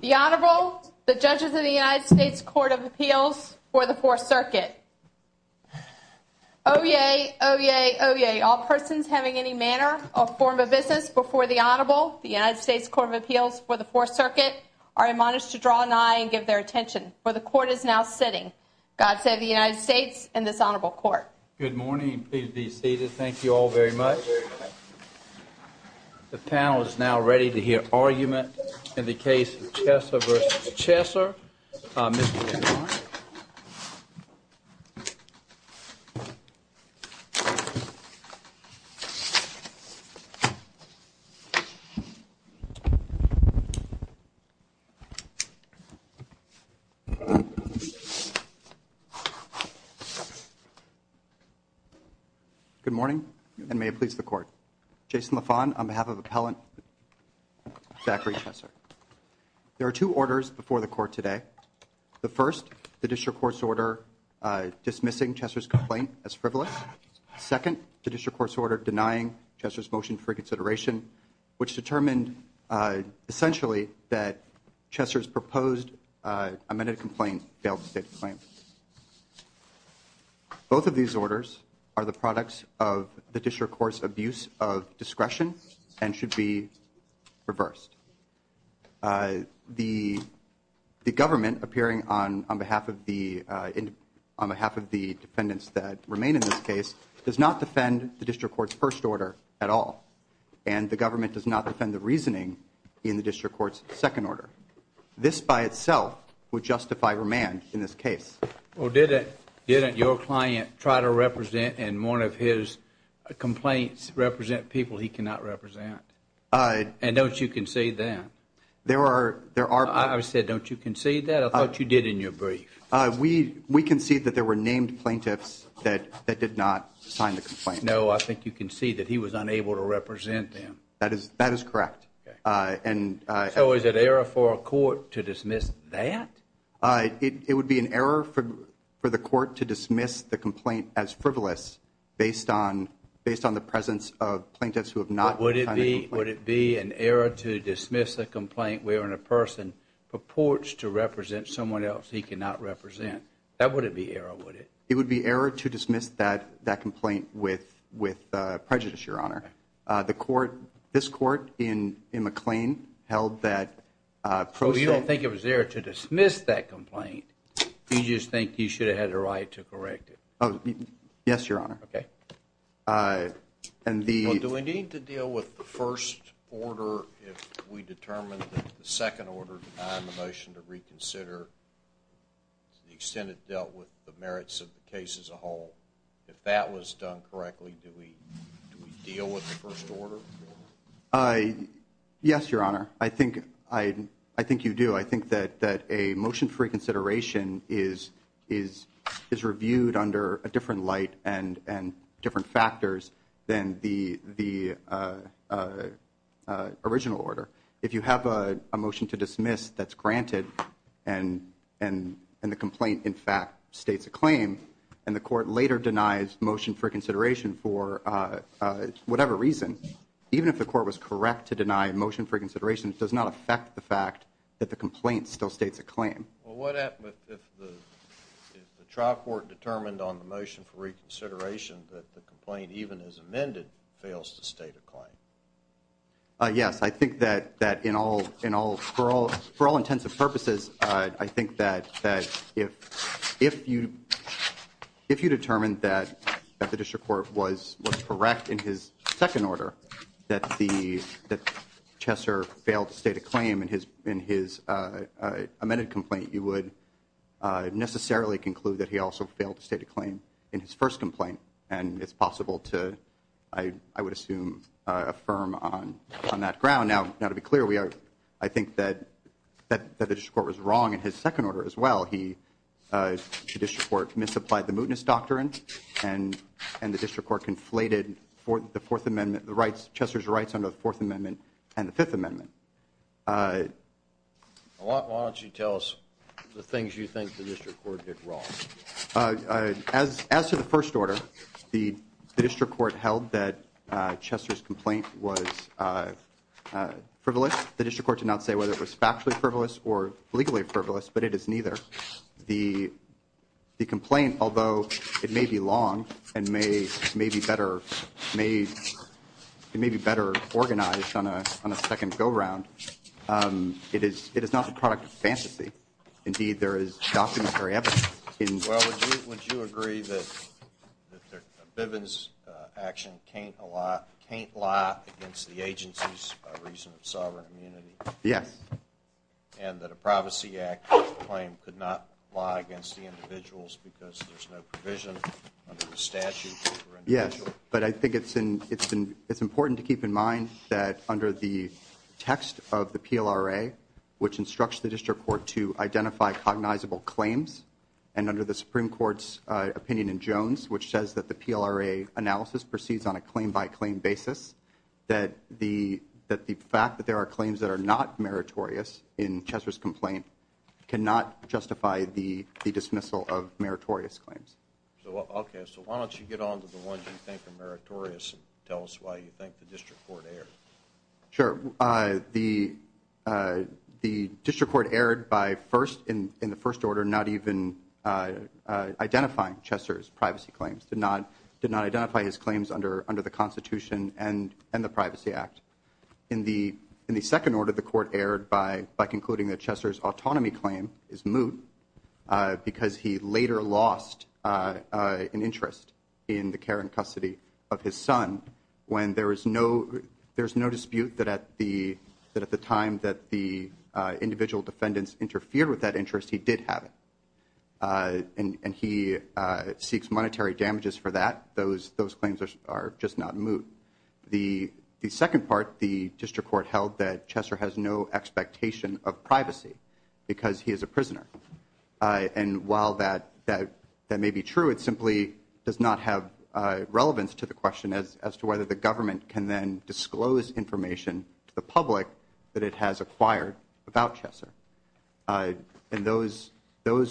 The Honorable, the Judges of the United States Court of Appeals for the Fourth Circuit. Oyez! Oyez! Oyez! All persons having any manner or form of business before the Honorable, the United States Court of Appeals for the Fourth Circuit, are admonished to draw an eye and give their attention, for the Court is now sitting. God save the United States and this Honorable Court. Good morning. Please be seated. Thank you all very much. The panel is now ready to hear argument in the case of Chesser v. Chesser. Good morning and may it please the Court. Jason LaFond on behalf of Appellant Zachary Chesser. There are two orders before the Court today. The first, the District Court's order dismissing Chesser's complaint as frivolous. Second, the District Court's order denying Chesser's motion for consideration, which determined essentially that Chesser's proposed amended complaint failed to state the claim. Both of these orders are the products of the District Court's abuse of discretion and should be reversed. The government, appearing on behalf of the defendants that remain in this case, does not defend the District Court's first order at all. And the government does not defend the reasoning in the District Court's second order. This by itself would justify remand in this case. Well, didn't your client try to represent and one of his complaints represent people he cannot represent? And don't you concede that? I said, don't you concede that? I thought you did in your brief. We concede that there were named plaintiffs that did not sign the complaint. No, I think you concede that he was unable to represent them. That is correct. So is it error for a court to dismiss that? It would be an error for the court to dismiss the complaint as frivolous based on the presence of plaintiffs who have not signed the complaint. Would it be an error to dismiss a complaint wherein a person purports to represent someone else he cannot represent? That wouldn't be error, would it? It would be error to dismiss that complaint with prejudice, Your Honor. This court in McLean held that... So you don't think it was error to dismiss that complaint? You just think you should have had a right to correct it? Yes, Your Honor. Do we need to deal with the first order if we determine that the second order defined the motion to reconsider to the extent it dealt with the merits of the case as a whole? If that was done correctly, do we deal with the first order? Yes, Your Honor. I think you do. I think that a motion for reconsideration is reviewed under a different light and different factors than the original order. If you have a motion to dismiss that's granted and the complaint, in fact, states a claim and the court later denies motion for reconsideration for whatever reason, even if the court was correct to deny a motion for reconsideration, it does not affect the fact that the complaint still states a claim. What happens if the trial court determined on the motion for reconsideration that the complaint, even as amended, fails to state a claim? I think that if you determined that the district court was correct in his second order, that Chesser failed to state a claim in his amended complaint, you would necessarily conclude that he also failed to state a claim in his first complaint, and it's possible to, I would assume, affirm on that ground. Now, to be clear, I think that the district court was wrong in his second order as well. The district court misapplied the mootness doctrine and the district court conflated Chesser's rights under the Fourth Amendment and the Fifth Amendment. Why don't you tell us the things you think the district court did wrong? As to the first order, the district court held that Chesser's complaint was frivolous. The district court did not say whether it was factually frivolous or legally frivolous, but it is neither. The complaint, although it may be long and may be better organized on a second go-round, Well, would you agree that Bivens' action can't lie against the agency's reason of sovereign immunity? Yes. And that a Privacy Act claim could not lie against the individuals because there's no provision under the statute for individuals? Yes, but I think it's important to keep in mind that under the text of the PLRA, which instructs the district court to identify cognizable claims, and under the Supreme Court's opinion in Jones, which says that the PLRA analysis proceeds on a claim-by-claim basis, that the fact that there are claims that are not meritorious in Chesser's complaint cannot justify the dismissal of meritorious claims. Okay, so why don't you get on to the ones you think are meritorious and tell us why you think the district court erred? Sure. The district court erred in the first order not even identifying Chesser's privacy claims, did not identify his claims under the Constitution and the Privacy Act. In the second order, the court erred by concluding that Chesser's autonomy claim is moot because he later lost an interest in the care and custody of his son when there is no dispute that at the time that the individual defendants interfered with that interest, he did have it, and he seeks monetary damages for that. Those claims are just not moot. The second part, the district court held that Chesser has no expectation of privacy because he is a prisoner, and while that may be true, it simply does not have relevance to the question as to whether the government can then disclose information to the public that it has acquired about Chesser. And those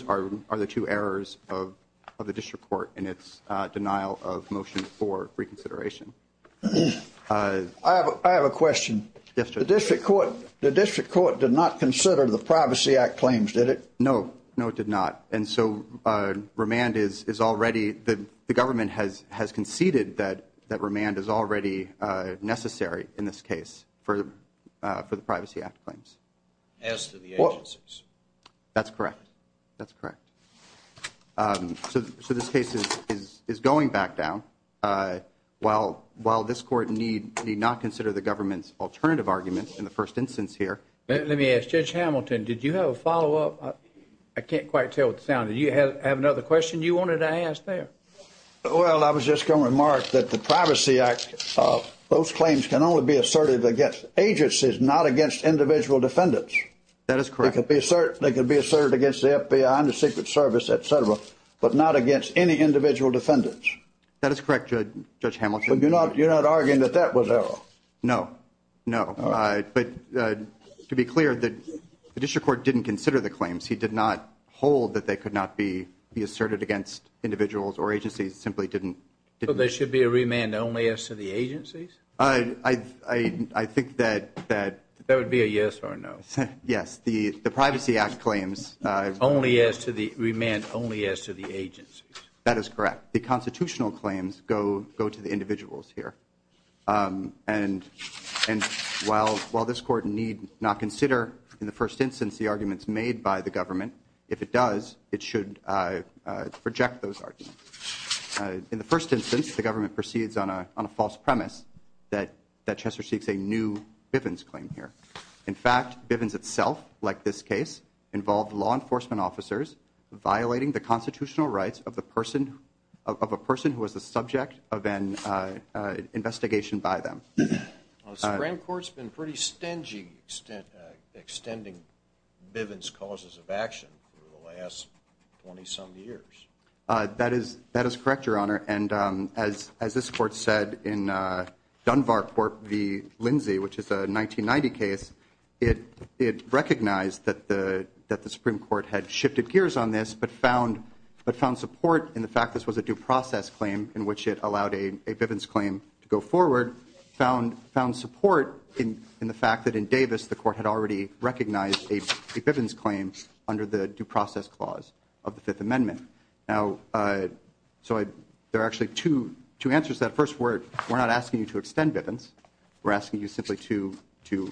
are the two errors of the district court in its denial of motion for reconsideration. I have a question. The district court did not consider the Privacy Act claims, did it? No, no, it did not. And so remand is already the government has conceded that remand is already necessary in this case for the Privacy Act claims. As to the agencies. That's correct. That's correct. So this case is going back down. While this court need not consider the government's alternative arguments in the first instance here. Let me ask, Judge Hamilton, did you have a follow-up? I can't quite tell what the sound is. Do you have another question you wanted to ask there? Well, I was just going to remark that the Privacy Act, those claims can only be asserted against agencies, not against individual defendants. That is correct. They could be asserted against the FBI and the Secret Service, et cetera, but not against any individual defendants. That is correct, Judge Hamilton. But you're not arguing that that was error? No, no. But to be clear, the district court didn't consider the claims. He did not hold that they could not be asserted against individuals or agencies, simply didn't. So there should be a remand only as to the agencies? I think that. That would be a yes or a no. Yes. The Privacy Act claims. Remand only as to the agencies. That is correct. The constitutional claims go to the individuals here. And while this Court need not consider in the first instance the arguments made by the government, if it does, it should reject those arguments. In the first instance, the government proceeds on a false premise that Chester seeks a new Bivens claim here. In fact, Bivens itself, like this case, involved law enforcement officers violating the constitutional rights of a person who was the subject of an investigation by them. The Supreme Court's been pretty stingy extending Bivens' causes of action for the last 20-some years. As this Court said in Dunbar v. Lindsay, which is a 1990 case, it recognized that the Supreme Court had shifted gears on this but found support in the fact this was a due process claim in which it allowed a Bivens claim to go forward, found support in the fact that in Davis the Court had already recognized a Bivens claim under the due process clause of the Fifth Amendment. Now, so there are actually two answers to that. First, we're not asking you to extend Bivens. We're asking you simply to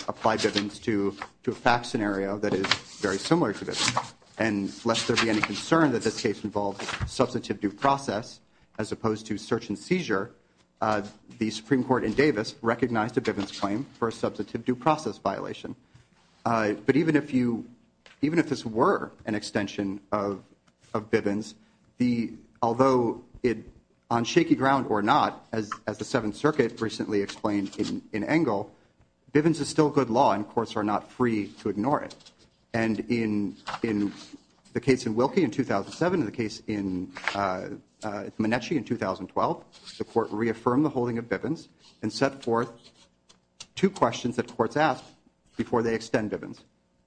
apply Bivens to a fact scenario that is very similar to Bivens. And lest there be any concern that this case involved substantive due process as opposed to search and seizure, the Supreme Court in Davis recognized a Bivens claim for a substantive due process violation. But even if this were an extension of Bivens, although on shaky ground or not, as the Seventh Circuit recently explained in Engel, Bivens is still good law and courts are not free to ignore it. And in the case in Wilkie in 2007 and the case in Minechi in 2012, the court reaffirmed the holding of Bivens and set forth two questions that courts asked before they extend Bivens.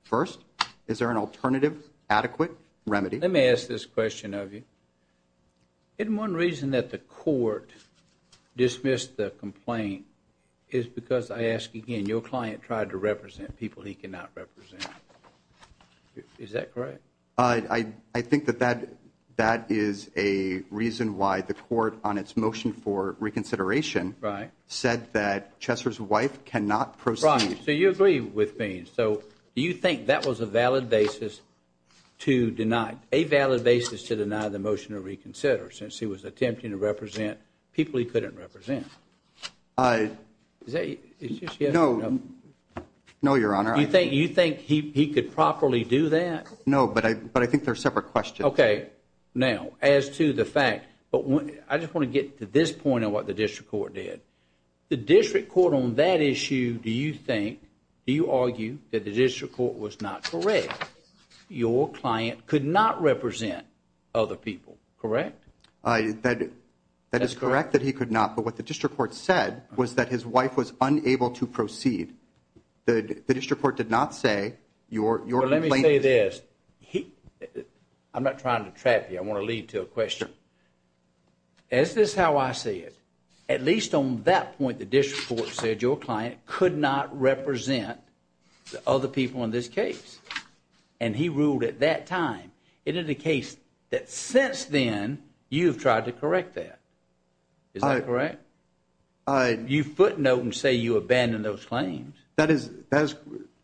First, is there an alternative adequate remedy? Let me ask this question of you. Isn't one reason that the court dismissed the complaint is because, I ask again, your client tried to represent people he cannot represent. Is that correct? I think that that is a reason why the court on its motion for reconsideration said that Chesser's wife cannot proceed. Right. So you agree with Bivens. So you think that was a valid basis to deny, a valid basis to deny the motion to reconsider since he was attempting to represent people he couldn't represent? No, Your Honor. You think he could properly do that? No, but I think they're separate questions. Okay. Now, as to the fact, I just want to get to this point of what the district court did. The district court on that issue, do you think, do you argue that the district court was not correct? Your client could not represent other people, correct? That is correct that he could not. But what the district court said was that his wife was unable to proceed. The district court did not say your complaint Let me tell you this. I'm not trying to trap you. I want to lead to a question. Is this how I see it? At least on that point, the district court said your client could not represent other people in this case. And he ruled at that time. It indicates that since then, you've tried to correct that. Is that correct? You footnote and say you abandoned those claims. That is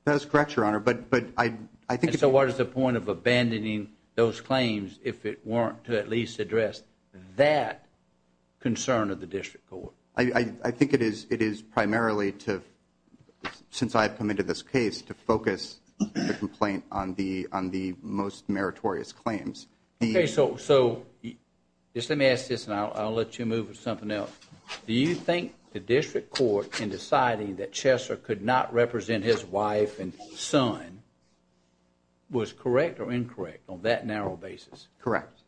correct, Your Honor. So what is the point of abandoning those claims if it weren't to at least address that concern of the district court? I think it is primarily to, since I've come into this case, to focus the complaint on the most meritorious claims. Okay, so just let me ask this and I'll let you move to something else. Do you think the district court, in deciding that Chesser could not represent his wife and son, was correct or incorrect on that narrow basis? Correct.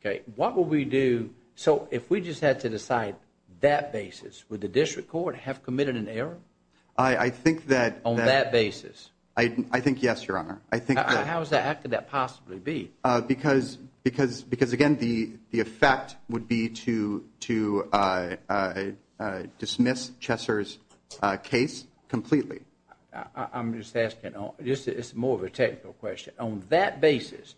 Okay, what would we do, so if we just had to decide that basis, would the district court have committed an error? I think that On that basis? I think yes, Your Honor. How could that possibly be? Because, again, the effect would be to dismiss Chesser's case completely. I'm just asking, it's more of a technical question. On that basis,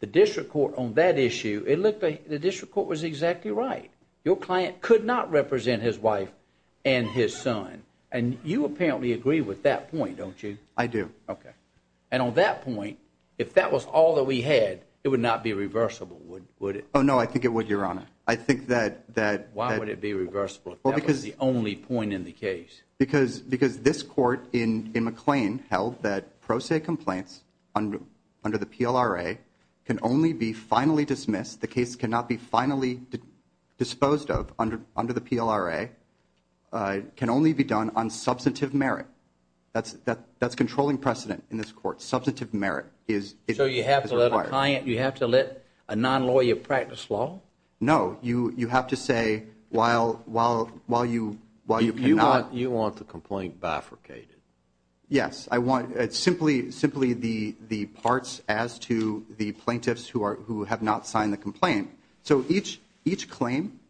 the district court on that issue, it looked like the district court was exactly right. Your client could not represent his wife and his son. And you apparently agree with that point, don't you? I do. Okay. And on that point, if that was all that we had, it would not be reversible, would it? Oh, no, I think it would, Your Honor. I think that Why would it be reversible if that was the only point in the case? Because this court in McLean held that pro se complaints under the PLRA can only be finally dismissed, the case cannot be finally disposed of under the PLRA, can only be done on substantive merit. That's controlling precedent in this court. Substantive merit is required. So you have to let a non-lawyer practice law? No. You have to say, while you cannot You want the complaint bifurcated. Yes. It's simply the parts as to the plaintiffs who have not signed the complaint. So each claim,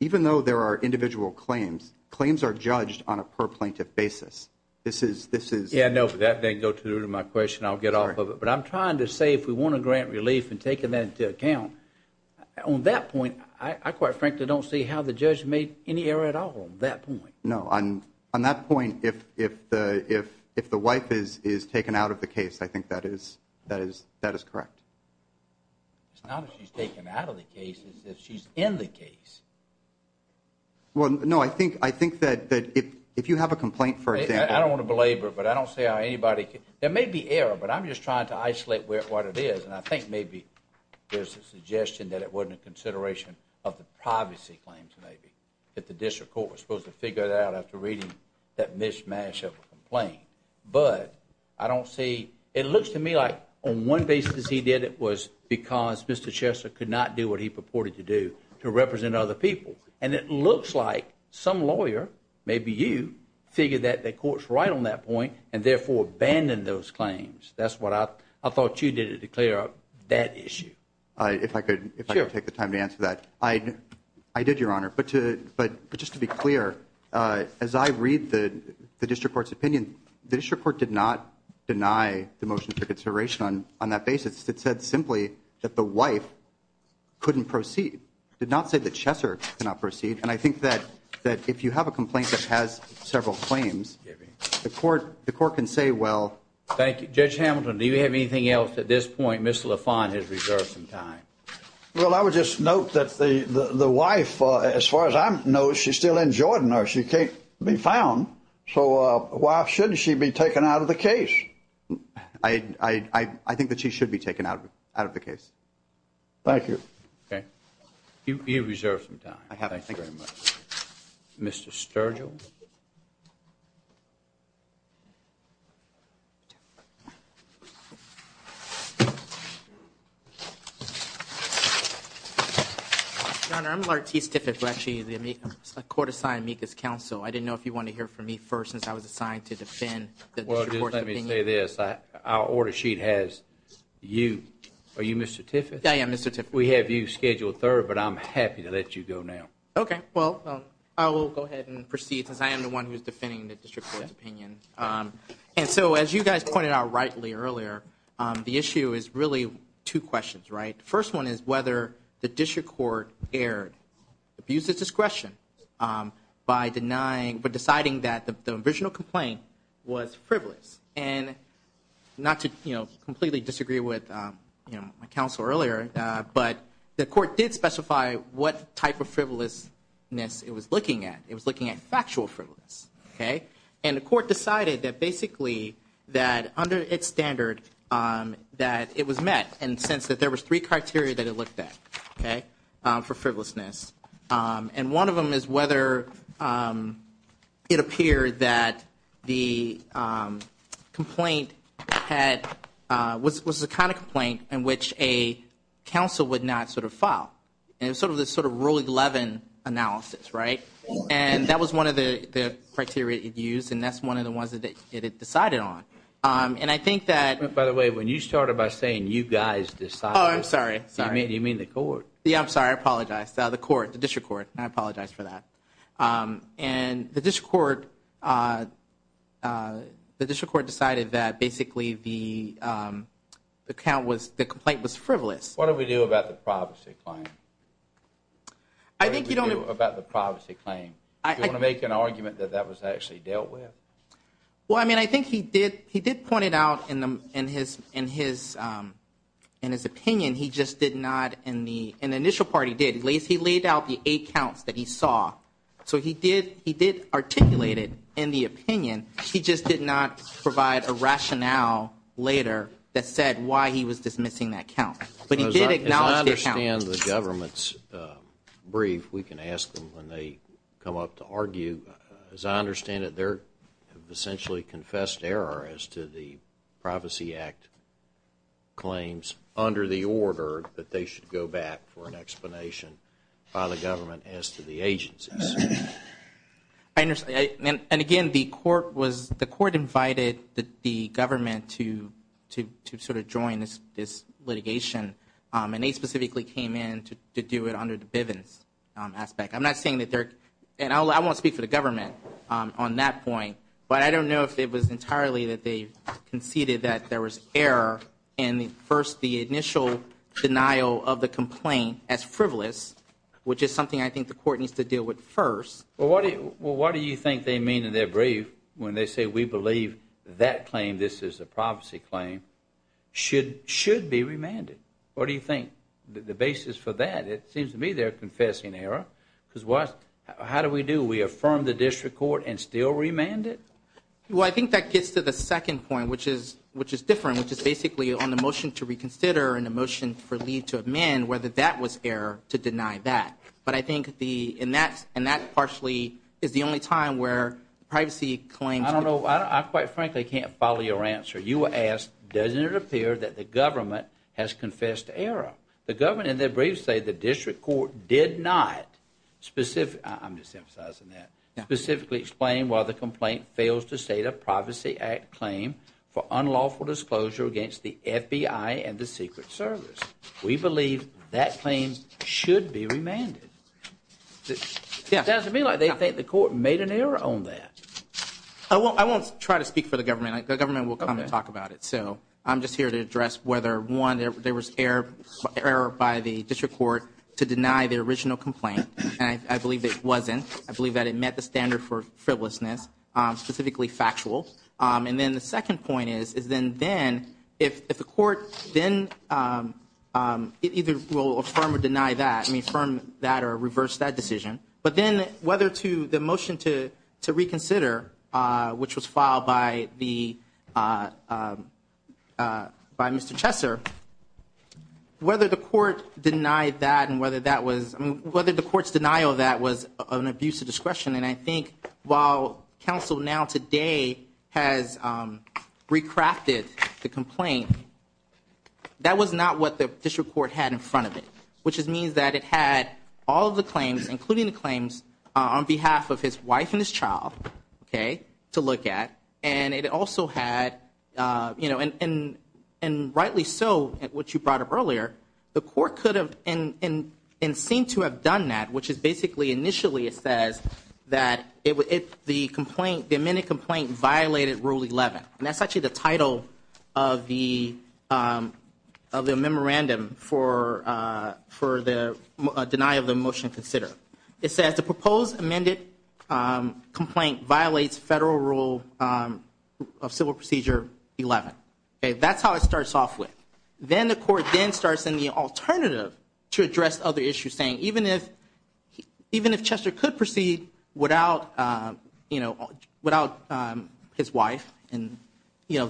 even though there are individual claims, claims are judged on a per-plaintiff basis. This is Yeah, no, but that didn't go to my question. I'll get off of it. But I'm trying to say, if we want to grant relief and taking that into account, on that point, I quite frankly don't see how the judge made any error at all on that point. No, on that point, if the wife is taken out of the case, I think that is correct. It's not that she's taken out of the case, it's that she's in the case. Well, no, I think that if you have a complaint, for example I don't want to belabor it, but I don't see how anybody can There may be error, but I'm just trying to isolate what it is, and I think maybe there's a suggestion that it wasn't a consideration of the privacy claims, maybe. That the district court was supposed to figure that out after reading that mismatch of a complaint. But I don't see, it looks to me like on one basis he did it was because Mr. Chester could not do what he purported to do, to represent other people. And it looks like some lawyer, maybe you, figured that the court's right on that point and therefore abandoned those claims. That's what I thought you did to clear up that issue. If I could take the time to answer that. I did, Your Honor. But just to be clear, as I read the district court's opinion, the district court did not deny the motion for consideration on that basis. It said simply that the wife couldn't proceed. It did not say that Chester could not proceed. And I think that if you have a complaint that has several claims, the court can say, well Thank you. Judge Hamilton, do you have anything else at this point? Mr. LaFont has reserved some time. Well, I would just note that the wife, as far as I know, she's still in Jordan or she can't be found. So why shouldn't she be taken out of the case? I think that she should be taken out of the case. Thank you. You have reserved some time. Thank you very much. Mr. Sturgill? Your Honor, I'm Lartice Tiffits. I'm actually a court-assigned amicus counsel. I didn't know if you wanted to hear from me first since I was assigned to defend the district court's opinion. Well, just let me say this. Our order sheet has you. Are you Mr. Tiffits? Yeah, I am Mr. Tiffits. We have you scheduled third, but I'm happy to let you go now. Okay. Well, I will go ahead and proceed since I am the one who is defending the district court's opinion. And so, as you guys pointed out rightly earlier, the issue is really two questions, right? The first one is whether the district court erred, abused its discretion by deciding that the original complaint was frivolous. And not to completely disagree with my counsel earlier, but the court did specify what type of frivolousness it was looking at. It was looking at factual frivolousness, okay? And the court decided that basically that under its standard that it was met and sensed that there was three criteria that it looked at for frivolousness. And one of them is whether it appeared that the complaint was the kind of complaint in which a counsel would not sort of file. And it was sort of this Rule 11 analysis, right? And that was one of the criteria it used, and that's one of the ones that it decided on. And I think that... By the way, when you started by saying you guys decided... Oh, I'm sorry. You mean the court? Yeah, I'm sorry. I apologize. The court, the district court. I apologize for that. And the district court decided that basically the complaint was frivolous. What do we do about the privacy claim? I think you don't... What do we do about the privacy claim? Do you want to make an argument that that was actually dealt with? Well, I mean, I think he did point it out in his opinion. He just did not in the initial part he did. He laid out the eight counts that he saw. So he did articulate it in the opinion. He just did not provide a rationale later that said why he was dismissing that count. But he did acknowledge the count. As I understand the government's brief, we can ask them when they come up to argue. As I understand it, they have essentially confessed error as to the Privacy Act claims under the order that they should go back for an explanation by the government as to the agencies. I understand. And again, the court invited the government to sort of join this litigation. And they specifically came in to do it under the Bivens aspect. I'm not saying that they're... And I won't speak for the government on that point. But I don't know if it was entirely that they conceded that there was error in the first, the initial denial of the complaint as frivolous, which is something I think the court needs to deal with first. Well, what do you think they mean in their brief when they say we believe that claim, this is a privacy claim, should be remanded? What do you think the basis for that? It seems to me they're confessing error. Because what, how do we do? We affirm the district court and still remand it? Well, I think that gets to the second point, which is different, which is basically on the motion to reconsider and the motion for leave to amend, whether that was error to deny that. But I think the, and that partially is the only time where privacy claims... I don't know. I quite frankly can't follow your answer. You asked, doesn't it appear that the government has confessed error? The government in their brief say the district court did not specifically, I'm just emphasizing that, specifically explain why the complaint fails to state a Privacy Act claim for unlawful disclosure against the FBI and the Secret Service. We believe that claim should be remanded. It sounds to me like they think the court made an error on that. I won't try to speak for the government. The government will come and talk about it. So I'm just here to address whether, one, there was error by the district court to deny the original complaint, and I believe it wasn't. I believe that it met the standard for frivolousness, specifically factual. And then the second point is, is then if the court then either will affirm or deny that, and affirm that or reverse that decision, but then whether to the motion to reconsider, which was filed by Mr. Chesser, whether the court denied that and whether the court's denial of that was an abuse of discretion. And I think while counsel now today has recrafted the complaint, that was not what the district court had in front of it, which means that it had all of the claims, including the claims, on behalf of his wife and his child, okay, to look at. And it also had, you know, and rightly so, what you brought up earlier, the court could have and seemed to have done that, which is basically initially it says that the complaint, the amended complaint violated Rule 11. And that's actually the title of the memorandum for the denial of the motion to consider. It says the proposed amended complaint violates Federal Rule of Civil Procedure 11. That's how it starts off with. Then the court then starts in the alternative to address other issues, saying even if Chesser could proceed without his wife,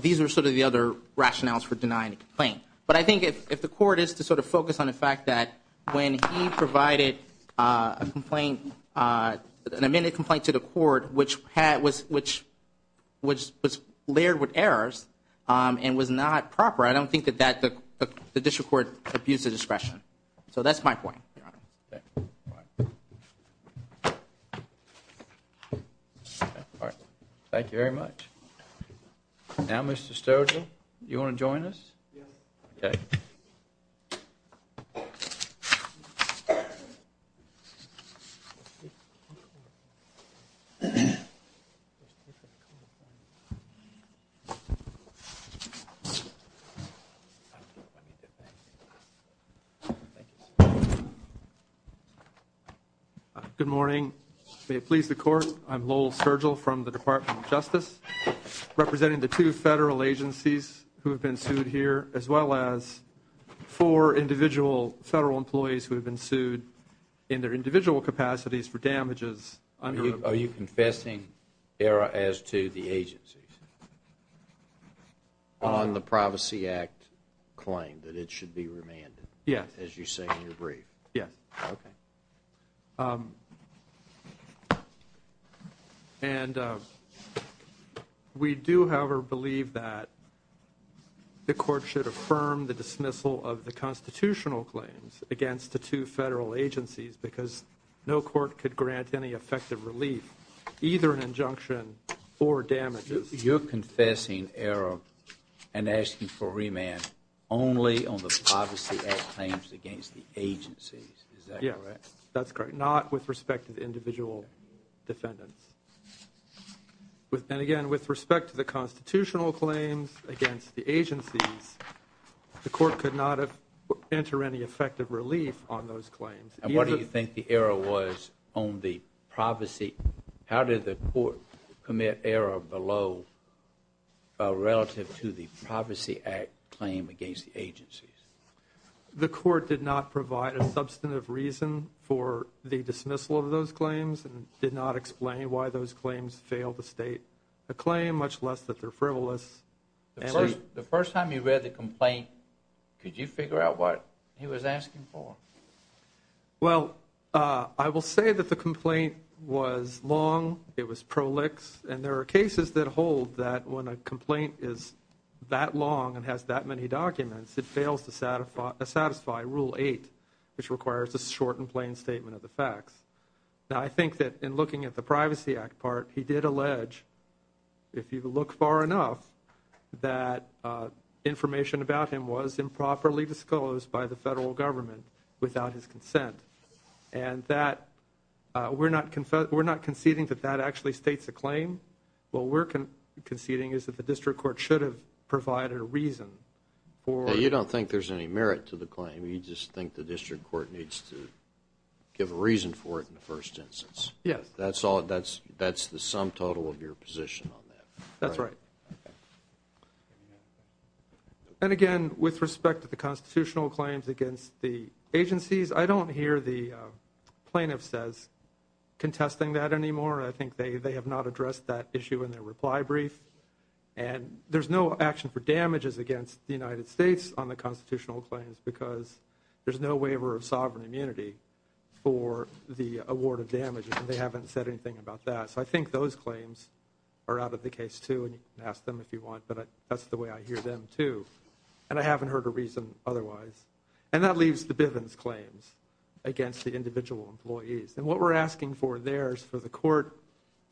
these are sort of the other rationales for denying the complaint. But I think if the court is to sort of focus on the fact that when he provided a complaint, an amended complaint to the court, which was layered with errors and was not proper, I don't think that the district court abused the discretion. So that's my point, Your Honor. Thank you very much. Now, Mr. Sturgeon, do you want to join us? Yes. Okay. Good morning. May it please the Court, I'm Lowell Sturgill from the Department of Justice, representing the two Federal agencies who have been sued here, as well as four individual Federal employees who have been sued in their individual capacities for damages. Are you confessing error as to the agencies on the Privacy Act claim that it should be remanded? Yes. As you say in your brief? Yes. Okay. And we do, however, believe that the court should affirm the dismissal of the constitutional claims against the two Federal agencies because no court could grant any effective relief, either an injunction or damages. You're confessing error and asking for remand only on the Privacy Act claims against the agencies. Is that correct? Yes. That's correct. Not with respect to the individual defendants. And, again, with respect to the constitutional claims against the agencies, the court could not enter any effective relief on those claims. And what do you think the error was on the privacy? How did the court commit error below relative to the Privacy Act claim against the agencies? The court did not provide a substantive reason for the dismissal of those claims and did not explain why those claims failed to state a claim, much less that they're frivolous. The first time you read the complaint, could you figure out what he was asking for? Well, I will say that the complaint was long. It was prolix, and there are cases that hold that when a complaint is that long and has that many documents, it fails to satisfy Rule 8, which requires a short and plain statement of the facts. Now, I think that in looking at the Privacy Act part, he did allege, if you look far enough, that information about him was improperly disclosed by the federal government without his consent. And that we're not conceding that that actually states a claim. What we're conceding is that the district court should have provided a reason. You don't think there's any merit to the claim. You just think the district court needs to give a reason for it in the first instance. Yes. That's the sum total of your position on that. That's right. And again, with respect to the constitutional claims against the agencies, I don't hear the plaintiffs as contesting that anymore. I think they have not addressed that issue in their reply brief. And there's no action for damages against the United States on the constitutional claims because there's no waiver of sovereign immunity for the award of damages, and they haven't said anything about that. So I think those claims are out of the case too, and you can ask them if you want, but that's the way I hear them too, and I haven't heard a reason otherwise. And that leaves the Bivens claims against the individual employees. And what we're asking for there is for the court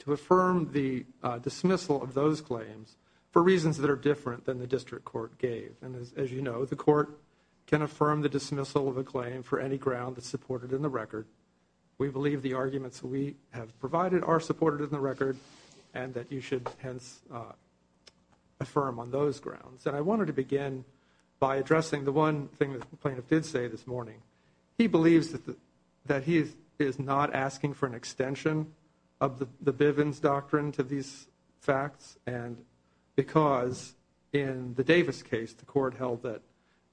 to affirm the dismissal of those claims for reasons that are different than the district court gave. And, as you know, the court can affirm the dismissal of a claim for any ground that's supported in the record. We believe the arguments we have provided are supported in the record and that you should, hence, affirm on those grounds. And I wanted to begin by addressing the one thing that the plaintiff did say this morning. He believes that he is not asking for an extension of the Bivens doctrine to these facts because in the Davis case the court held that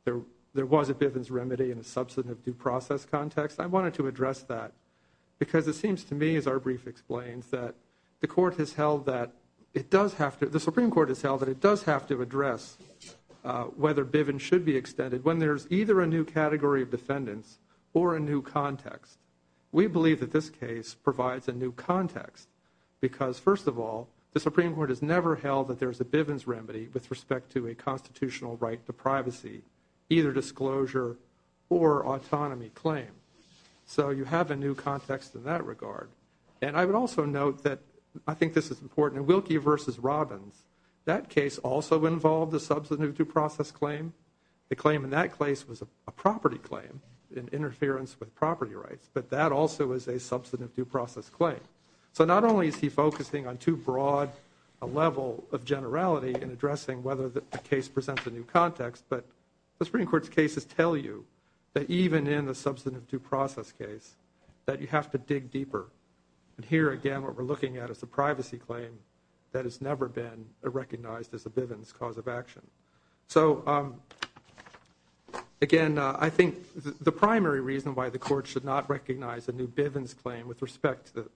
there was a Bivens remedy in a substantive due process context. I wanted to address that because it seems to me, as our brief explains, that the Supreme Court has held that it does have to address whether Bivens should be extended when there's either a new category of defendants or a new context. We believe that this case provides a new context because, first of all, the Supreme Court has never held that there's a Bivens remedy with respect to a constitutional right to privacy, either disclosure or autonomy claim. So you have a new context in that regard. And I would also note that I think this is important. In Wilkie v. Robbins, that case also involved a substantive due process claim. The claim in that case was a property claim in interference with property rights, but that also is a substantive due process claim. So not only is he focusing on too broad a level of generality in addressing whether the case presents a new context, but the Supreme Court's cases tell you that even in the substantive due process case that you have to dig deeper. And here, again, what we're looking at is a privacy claim that has never been recognized as a Bivens cause of action. So, again, I think the primary reason why the court should not recognize a new Bivens claim with respect to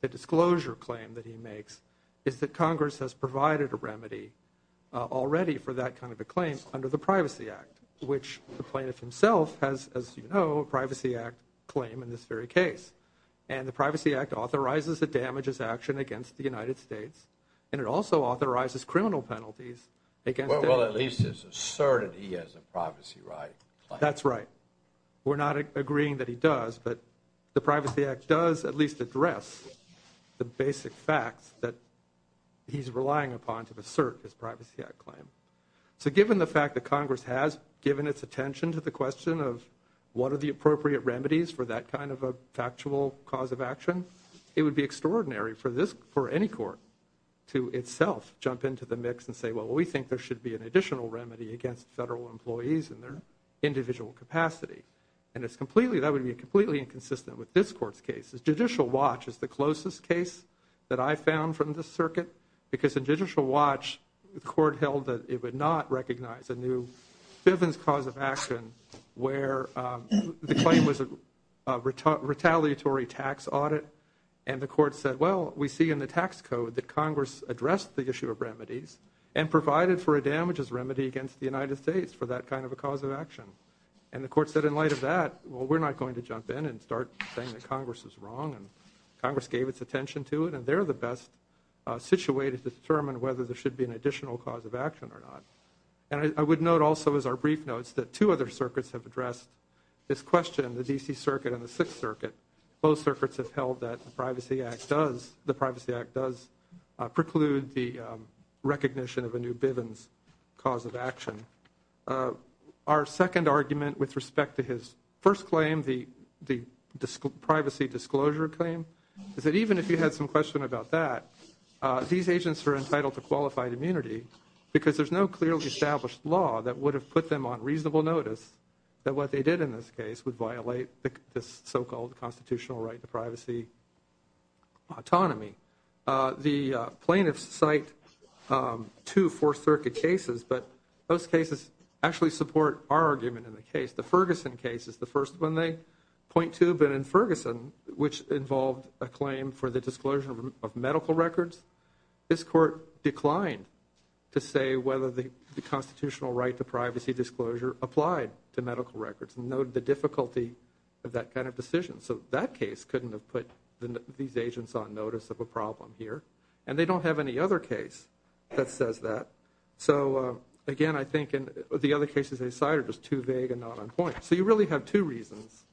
the disclosure claim that he makes is that Congress has provided a remedy already for that kind of a claim under the Privacy Act, which the plaintiff himself has, as you know, a Privacy Act claim in this very case. And the Privacy Act authorizes a damages action against the United States, and it also authorizes criminal penalties against it. Well, at least it's asserted he has a privacy right. That's right. We're not agreeing that he does, but the Privacy Act does at least address the basic facts that he's relying upon to assert his Privacy Act claim. So given the fact that Congress has given its attention to the question of what are the appropriate remedies for that kind of a factual cause of action, it would be extraordinary for any court to itself jump into the mix and say, well, we think there should be an additional remedy against federal employees in their individual capacity. And that would be completely inconsistent with this court's case. Judicial Watch is the closest case that I found from this circuit, because in Judicial Watch the court held that it would not recognize a new Bivens cause of action where the claim was a retaliatory tax audit. And the court said, well, we see in the tax code that Congress addressed the issue of remedies and provided for a damages remedy against the United States for that kind of a cause of action. And the court said in light of that, well, we're not going to jump in and start saying that Congress is wrong and Congress gave its attention to it, and they're the best situated to determine whether there should be an additional cause of action or not. And I would note also as our brief notes that two other circuits have addressed this question, the D.C. Circuit and the Sixth Circuit. Both circuits have held that the Privacy Act does preclude the recognition of a new Bivens cause of action. Our second argument with respect to his first claim, the Privacy Disclosure Claim, is that even if you had some question about that, these agents are entitled to qualified immunity because there's no clearly established law that would have put them on reasonable notice that what they did in this case would violate this so-called constitutional right to privacy autonomy. The plaintiffs cite two Fourth Circuit cases, but those cases actually support our argument in the case. The Ferguson case is the first one they point to. But in Ferguson, which involved a claim for the disclosure of medical records, this court declined to say whether the constitutional right to privacy disclosure applied to medical records and noted the difficulty of that kind of decision. So that case couldn't have put these agents on notice of a problem here, and they don't have any other case that says that. So, again, I think the other cases they cite are just too vague and not on point. So you really have two reasons,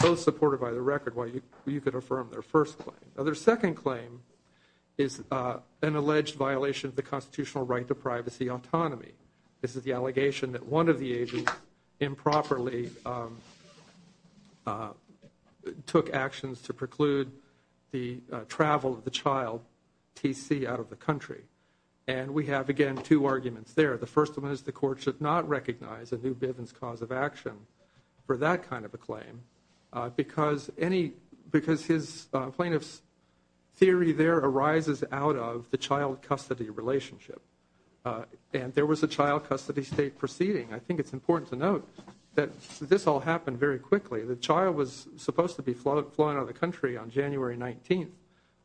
both supported by the record, why you could affirm their first claim. Their second claim is an alleged violation of the constitutional right to privacy autonomy. This is the allegation that one of the agents improperly took actions to preclude the travel of the child, T.C., out of the country. And we have, again, two arguments there. The first one is the court should not recognize a new Bivens cause of action for that kind of a claim because his plaintiff's theory there arises out of the child custody relationship. And there was a child custody state proceeding. I think it's important to note that this all happened very quickly. The child was supposed to be flown out of the country on January 19th.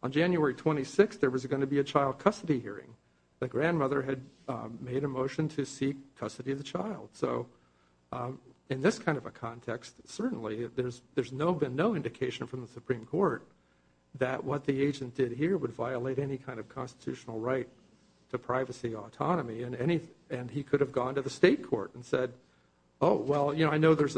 On January 26th, there was going to be a child custody hearing. The grandmother had made a motion to seek custody of the child. So in this kind of a context, certainly there's been no indication from the Supreme Court that what the agent did here would violate any kind of constitutional right to privacy autonomy. And he could have gone to the state court and said, oh, well, you know, I know there's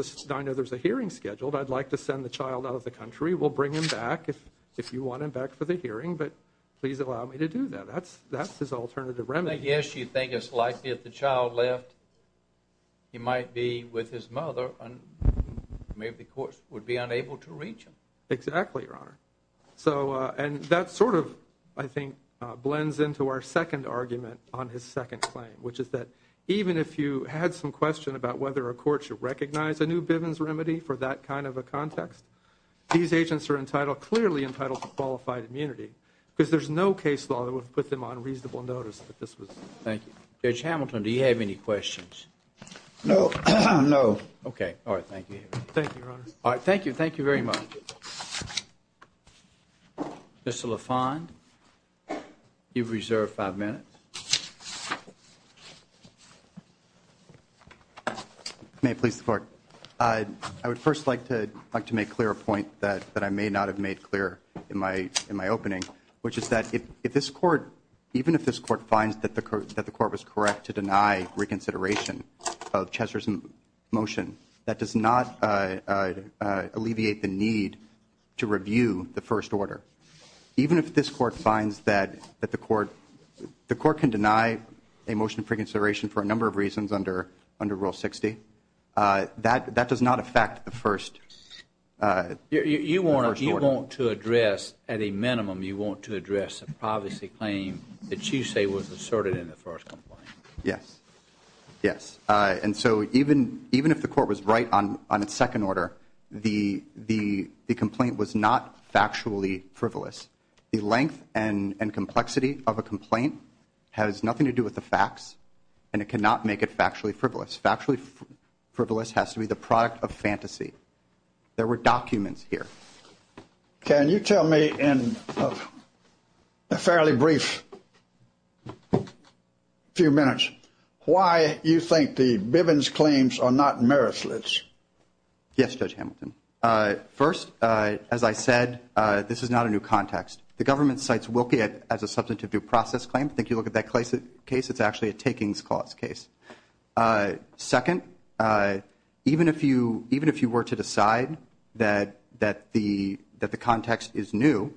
a hearing scheduled. I'd like to send the child out of the country. We'll bring him back if you want him back for the hearing, but please allow me to do that. That's his alternative remedy. Well, I guess you think it's likely if the child left, he might be with his mother, and maybe the courts would be unable to reach him. Exactly, Your Honor. And that sort of, I think, blends into our second argument on his second claim, which is that even if you had some question about whether a court should recognize a new Bivens remedy for that kind of a context, these agents are clearly entitled to qualified immunity because there's no case law that would put them on reasonable notice that this was done. Thank you. Judge Hamilton, do you have any questions? No. No. Okay. All right. Thank you. Thank you, Your Honor. All right. Thank you. Thank you very much. Mr. LaFond, you've reserved five minutes. May I please support? I would first like to make clear a point that I may not have made clear in my opening, which is that even if this court finds that the court was correct to deny reconsideration of Chesser's motion, that does not alleviate the need to review the first order. Even if this court finds that the court can deny a motion of reconsideration for a number of reasons under Rule 60, that does not affect the first order. You want to address, at a minimum, you want to address a privacy claim that you say was asserted in the first complaint. Yes. Yes. And so even if the court was right on its second order, the complaint was not factually frivolous. The length and complexity of a complaint has nothing to do with the facts, and it cannot make it factually frivolous. Factually frivolous has to be the product of fantasy. There were documents here. Can you tell me in a fairly brief few minutes why you think the Bivens claims are not meritless? Yes, Judge Hamilton. First, as I said, this is not a new context. The government cites Wilkie as a substantive due process claim. If you look at that case, it's actually a takings clause case. Second, even if you were to decide that the context is new,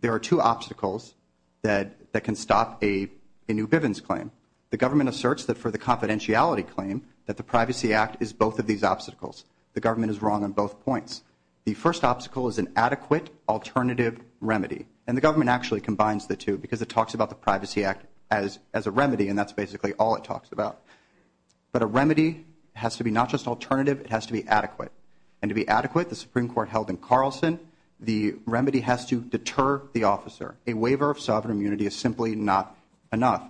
there are two obstacles that can stop a new Bivens claim. The government asserts that for the confidentiality claim that the Privacy Act is both of these obstacles. The government is wrong on both points. The first obstacle is an adequate alternative remedy, and the government actually combines the two because it talks about the Privacy Act as a remedy, and that's basically all it talks about. But a remedy has to be not just alternative. It has to be adequate, and to be adequate, the Supreme Court held in Carlson, the remedy has to deter the officer. A waiver of sovereign immunity is simply not enough.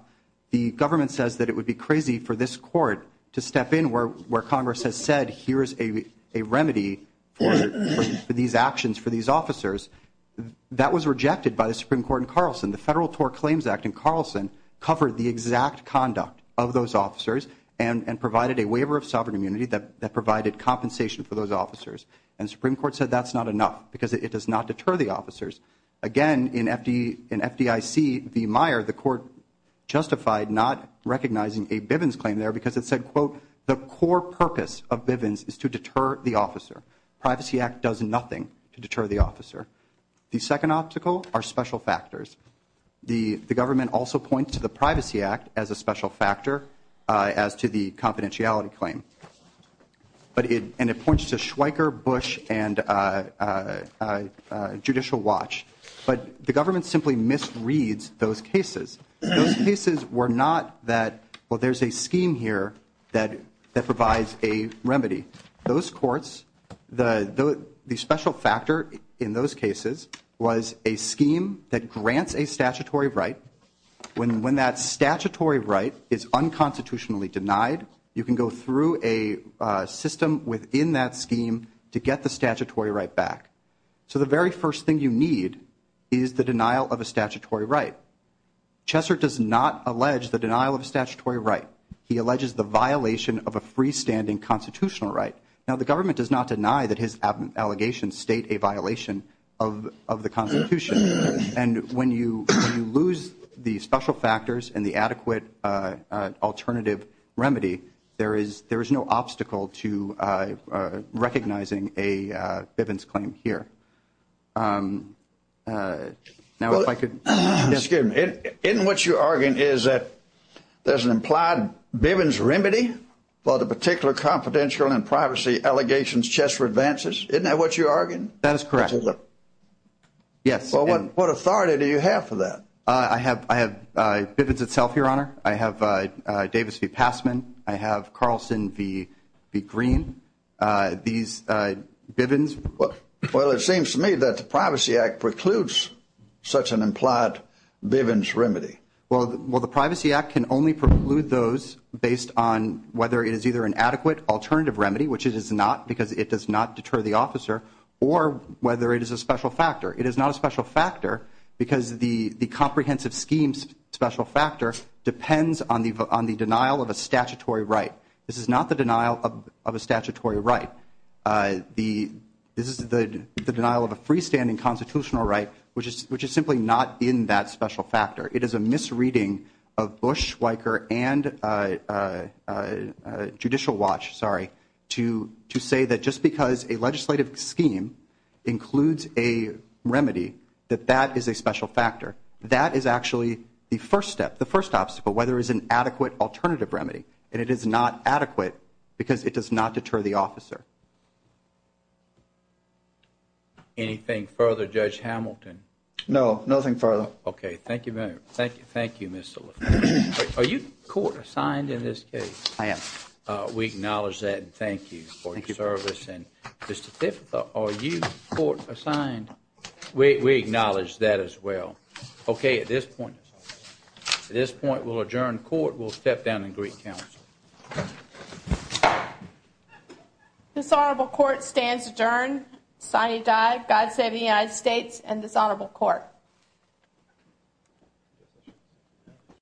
The government says that it would be crazy for this court to step in where Congress has said, here is a remedy for these actions for these officers. That was rejected by the Supreme Court in Carlson. The Federal TOR Claims Act in Carlson covered the exact conduct of those officers and provided a waiver of sovereign immunity that provided compensation for those officers, and the Supreme Court said that's not enough because it does not deter the officers. Again, in FDIC v. Meyer, the court justified not recognizing a Bivens claim there because it said, quote, the core purpose of Bivens is to deter the officer. The Privacy Act does nothing to deter the officer. The second obstacle are special factors. The government also points to the Privacy Act as a special factor as to the confidentiality claim, and it points to Schweiker, Bush, and Judicial Watch. But the government simply misreads those cases. Those cases were not that, well, there's a scheme here that provides a remedy. Those courts, the special factor in those cases was a scheme that grants a statutory right. When that statutory right is unconstitutionally denied, you can go through a system within that scheme to get the statutory right back. So the very first thing you need is the denial of a statutory right. Chesser does not allege the denial of a statutory right. He alleges the violation of a freestanding constitutional right. Now, the government does not deny that his allegations state a violation of the Constitution. And when you lose the special factors and the adequate alternative remedy, there is no obstacle to recognizing a Bivens claim here. Now, if I could. Excuse me. Isn't what you're arguing is that there's an implied Bivens remedy for the particular confidential and privacy allegations Chesser advances? Isn't that what you're arguing? That is correct. Yes. Well, what authority do you have for that? I have Bivens itself, Your Honor. I have Davis v. Passman. I have Carlson v. Green. These Bivens. Well, it seems to me that the Privacy Act precludes such an implied Bivens remedy. Well, the Privacy Act can only preclude those based on whether it is either an adequate alternative remedy, which it is not because it does not deter the officer, or whether it is a special factor. It is not a special factor because the comprehensive scheme's special factor depends on the denial of a statutory right. This is not the denial of a statutory right. This is the denial of a freestanding constitutional right, which is simply not in that special factor. It is a misreading of Bush, Weicker, and Judicial Watch, sorry, to say that just because a legislative scheme includes a remedy, that that is a special factor. That is actually the first step, the first obstacle, whether it is an adequate alternative remedy, and it is not adequate because it does not deter the officer. Anything further, Judge Hamilton? No, nothing further. Okay, thank you very much. Thank you, Mr. LaFleur. Are you court-assigned in this case? I am. We acknowledge that and thank you for your service. And Mr. Thibodeau, are you court-assigned? We acknowledge that as well. Okay, at this point, we'll adjourn court. We'll step down and greet counsel. This Honorable Court stands adjourned. Signee died. God save the United States and this Honorable Court.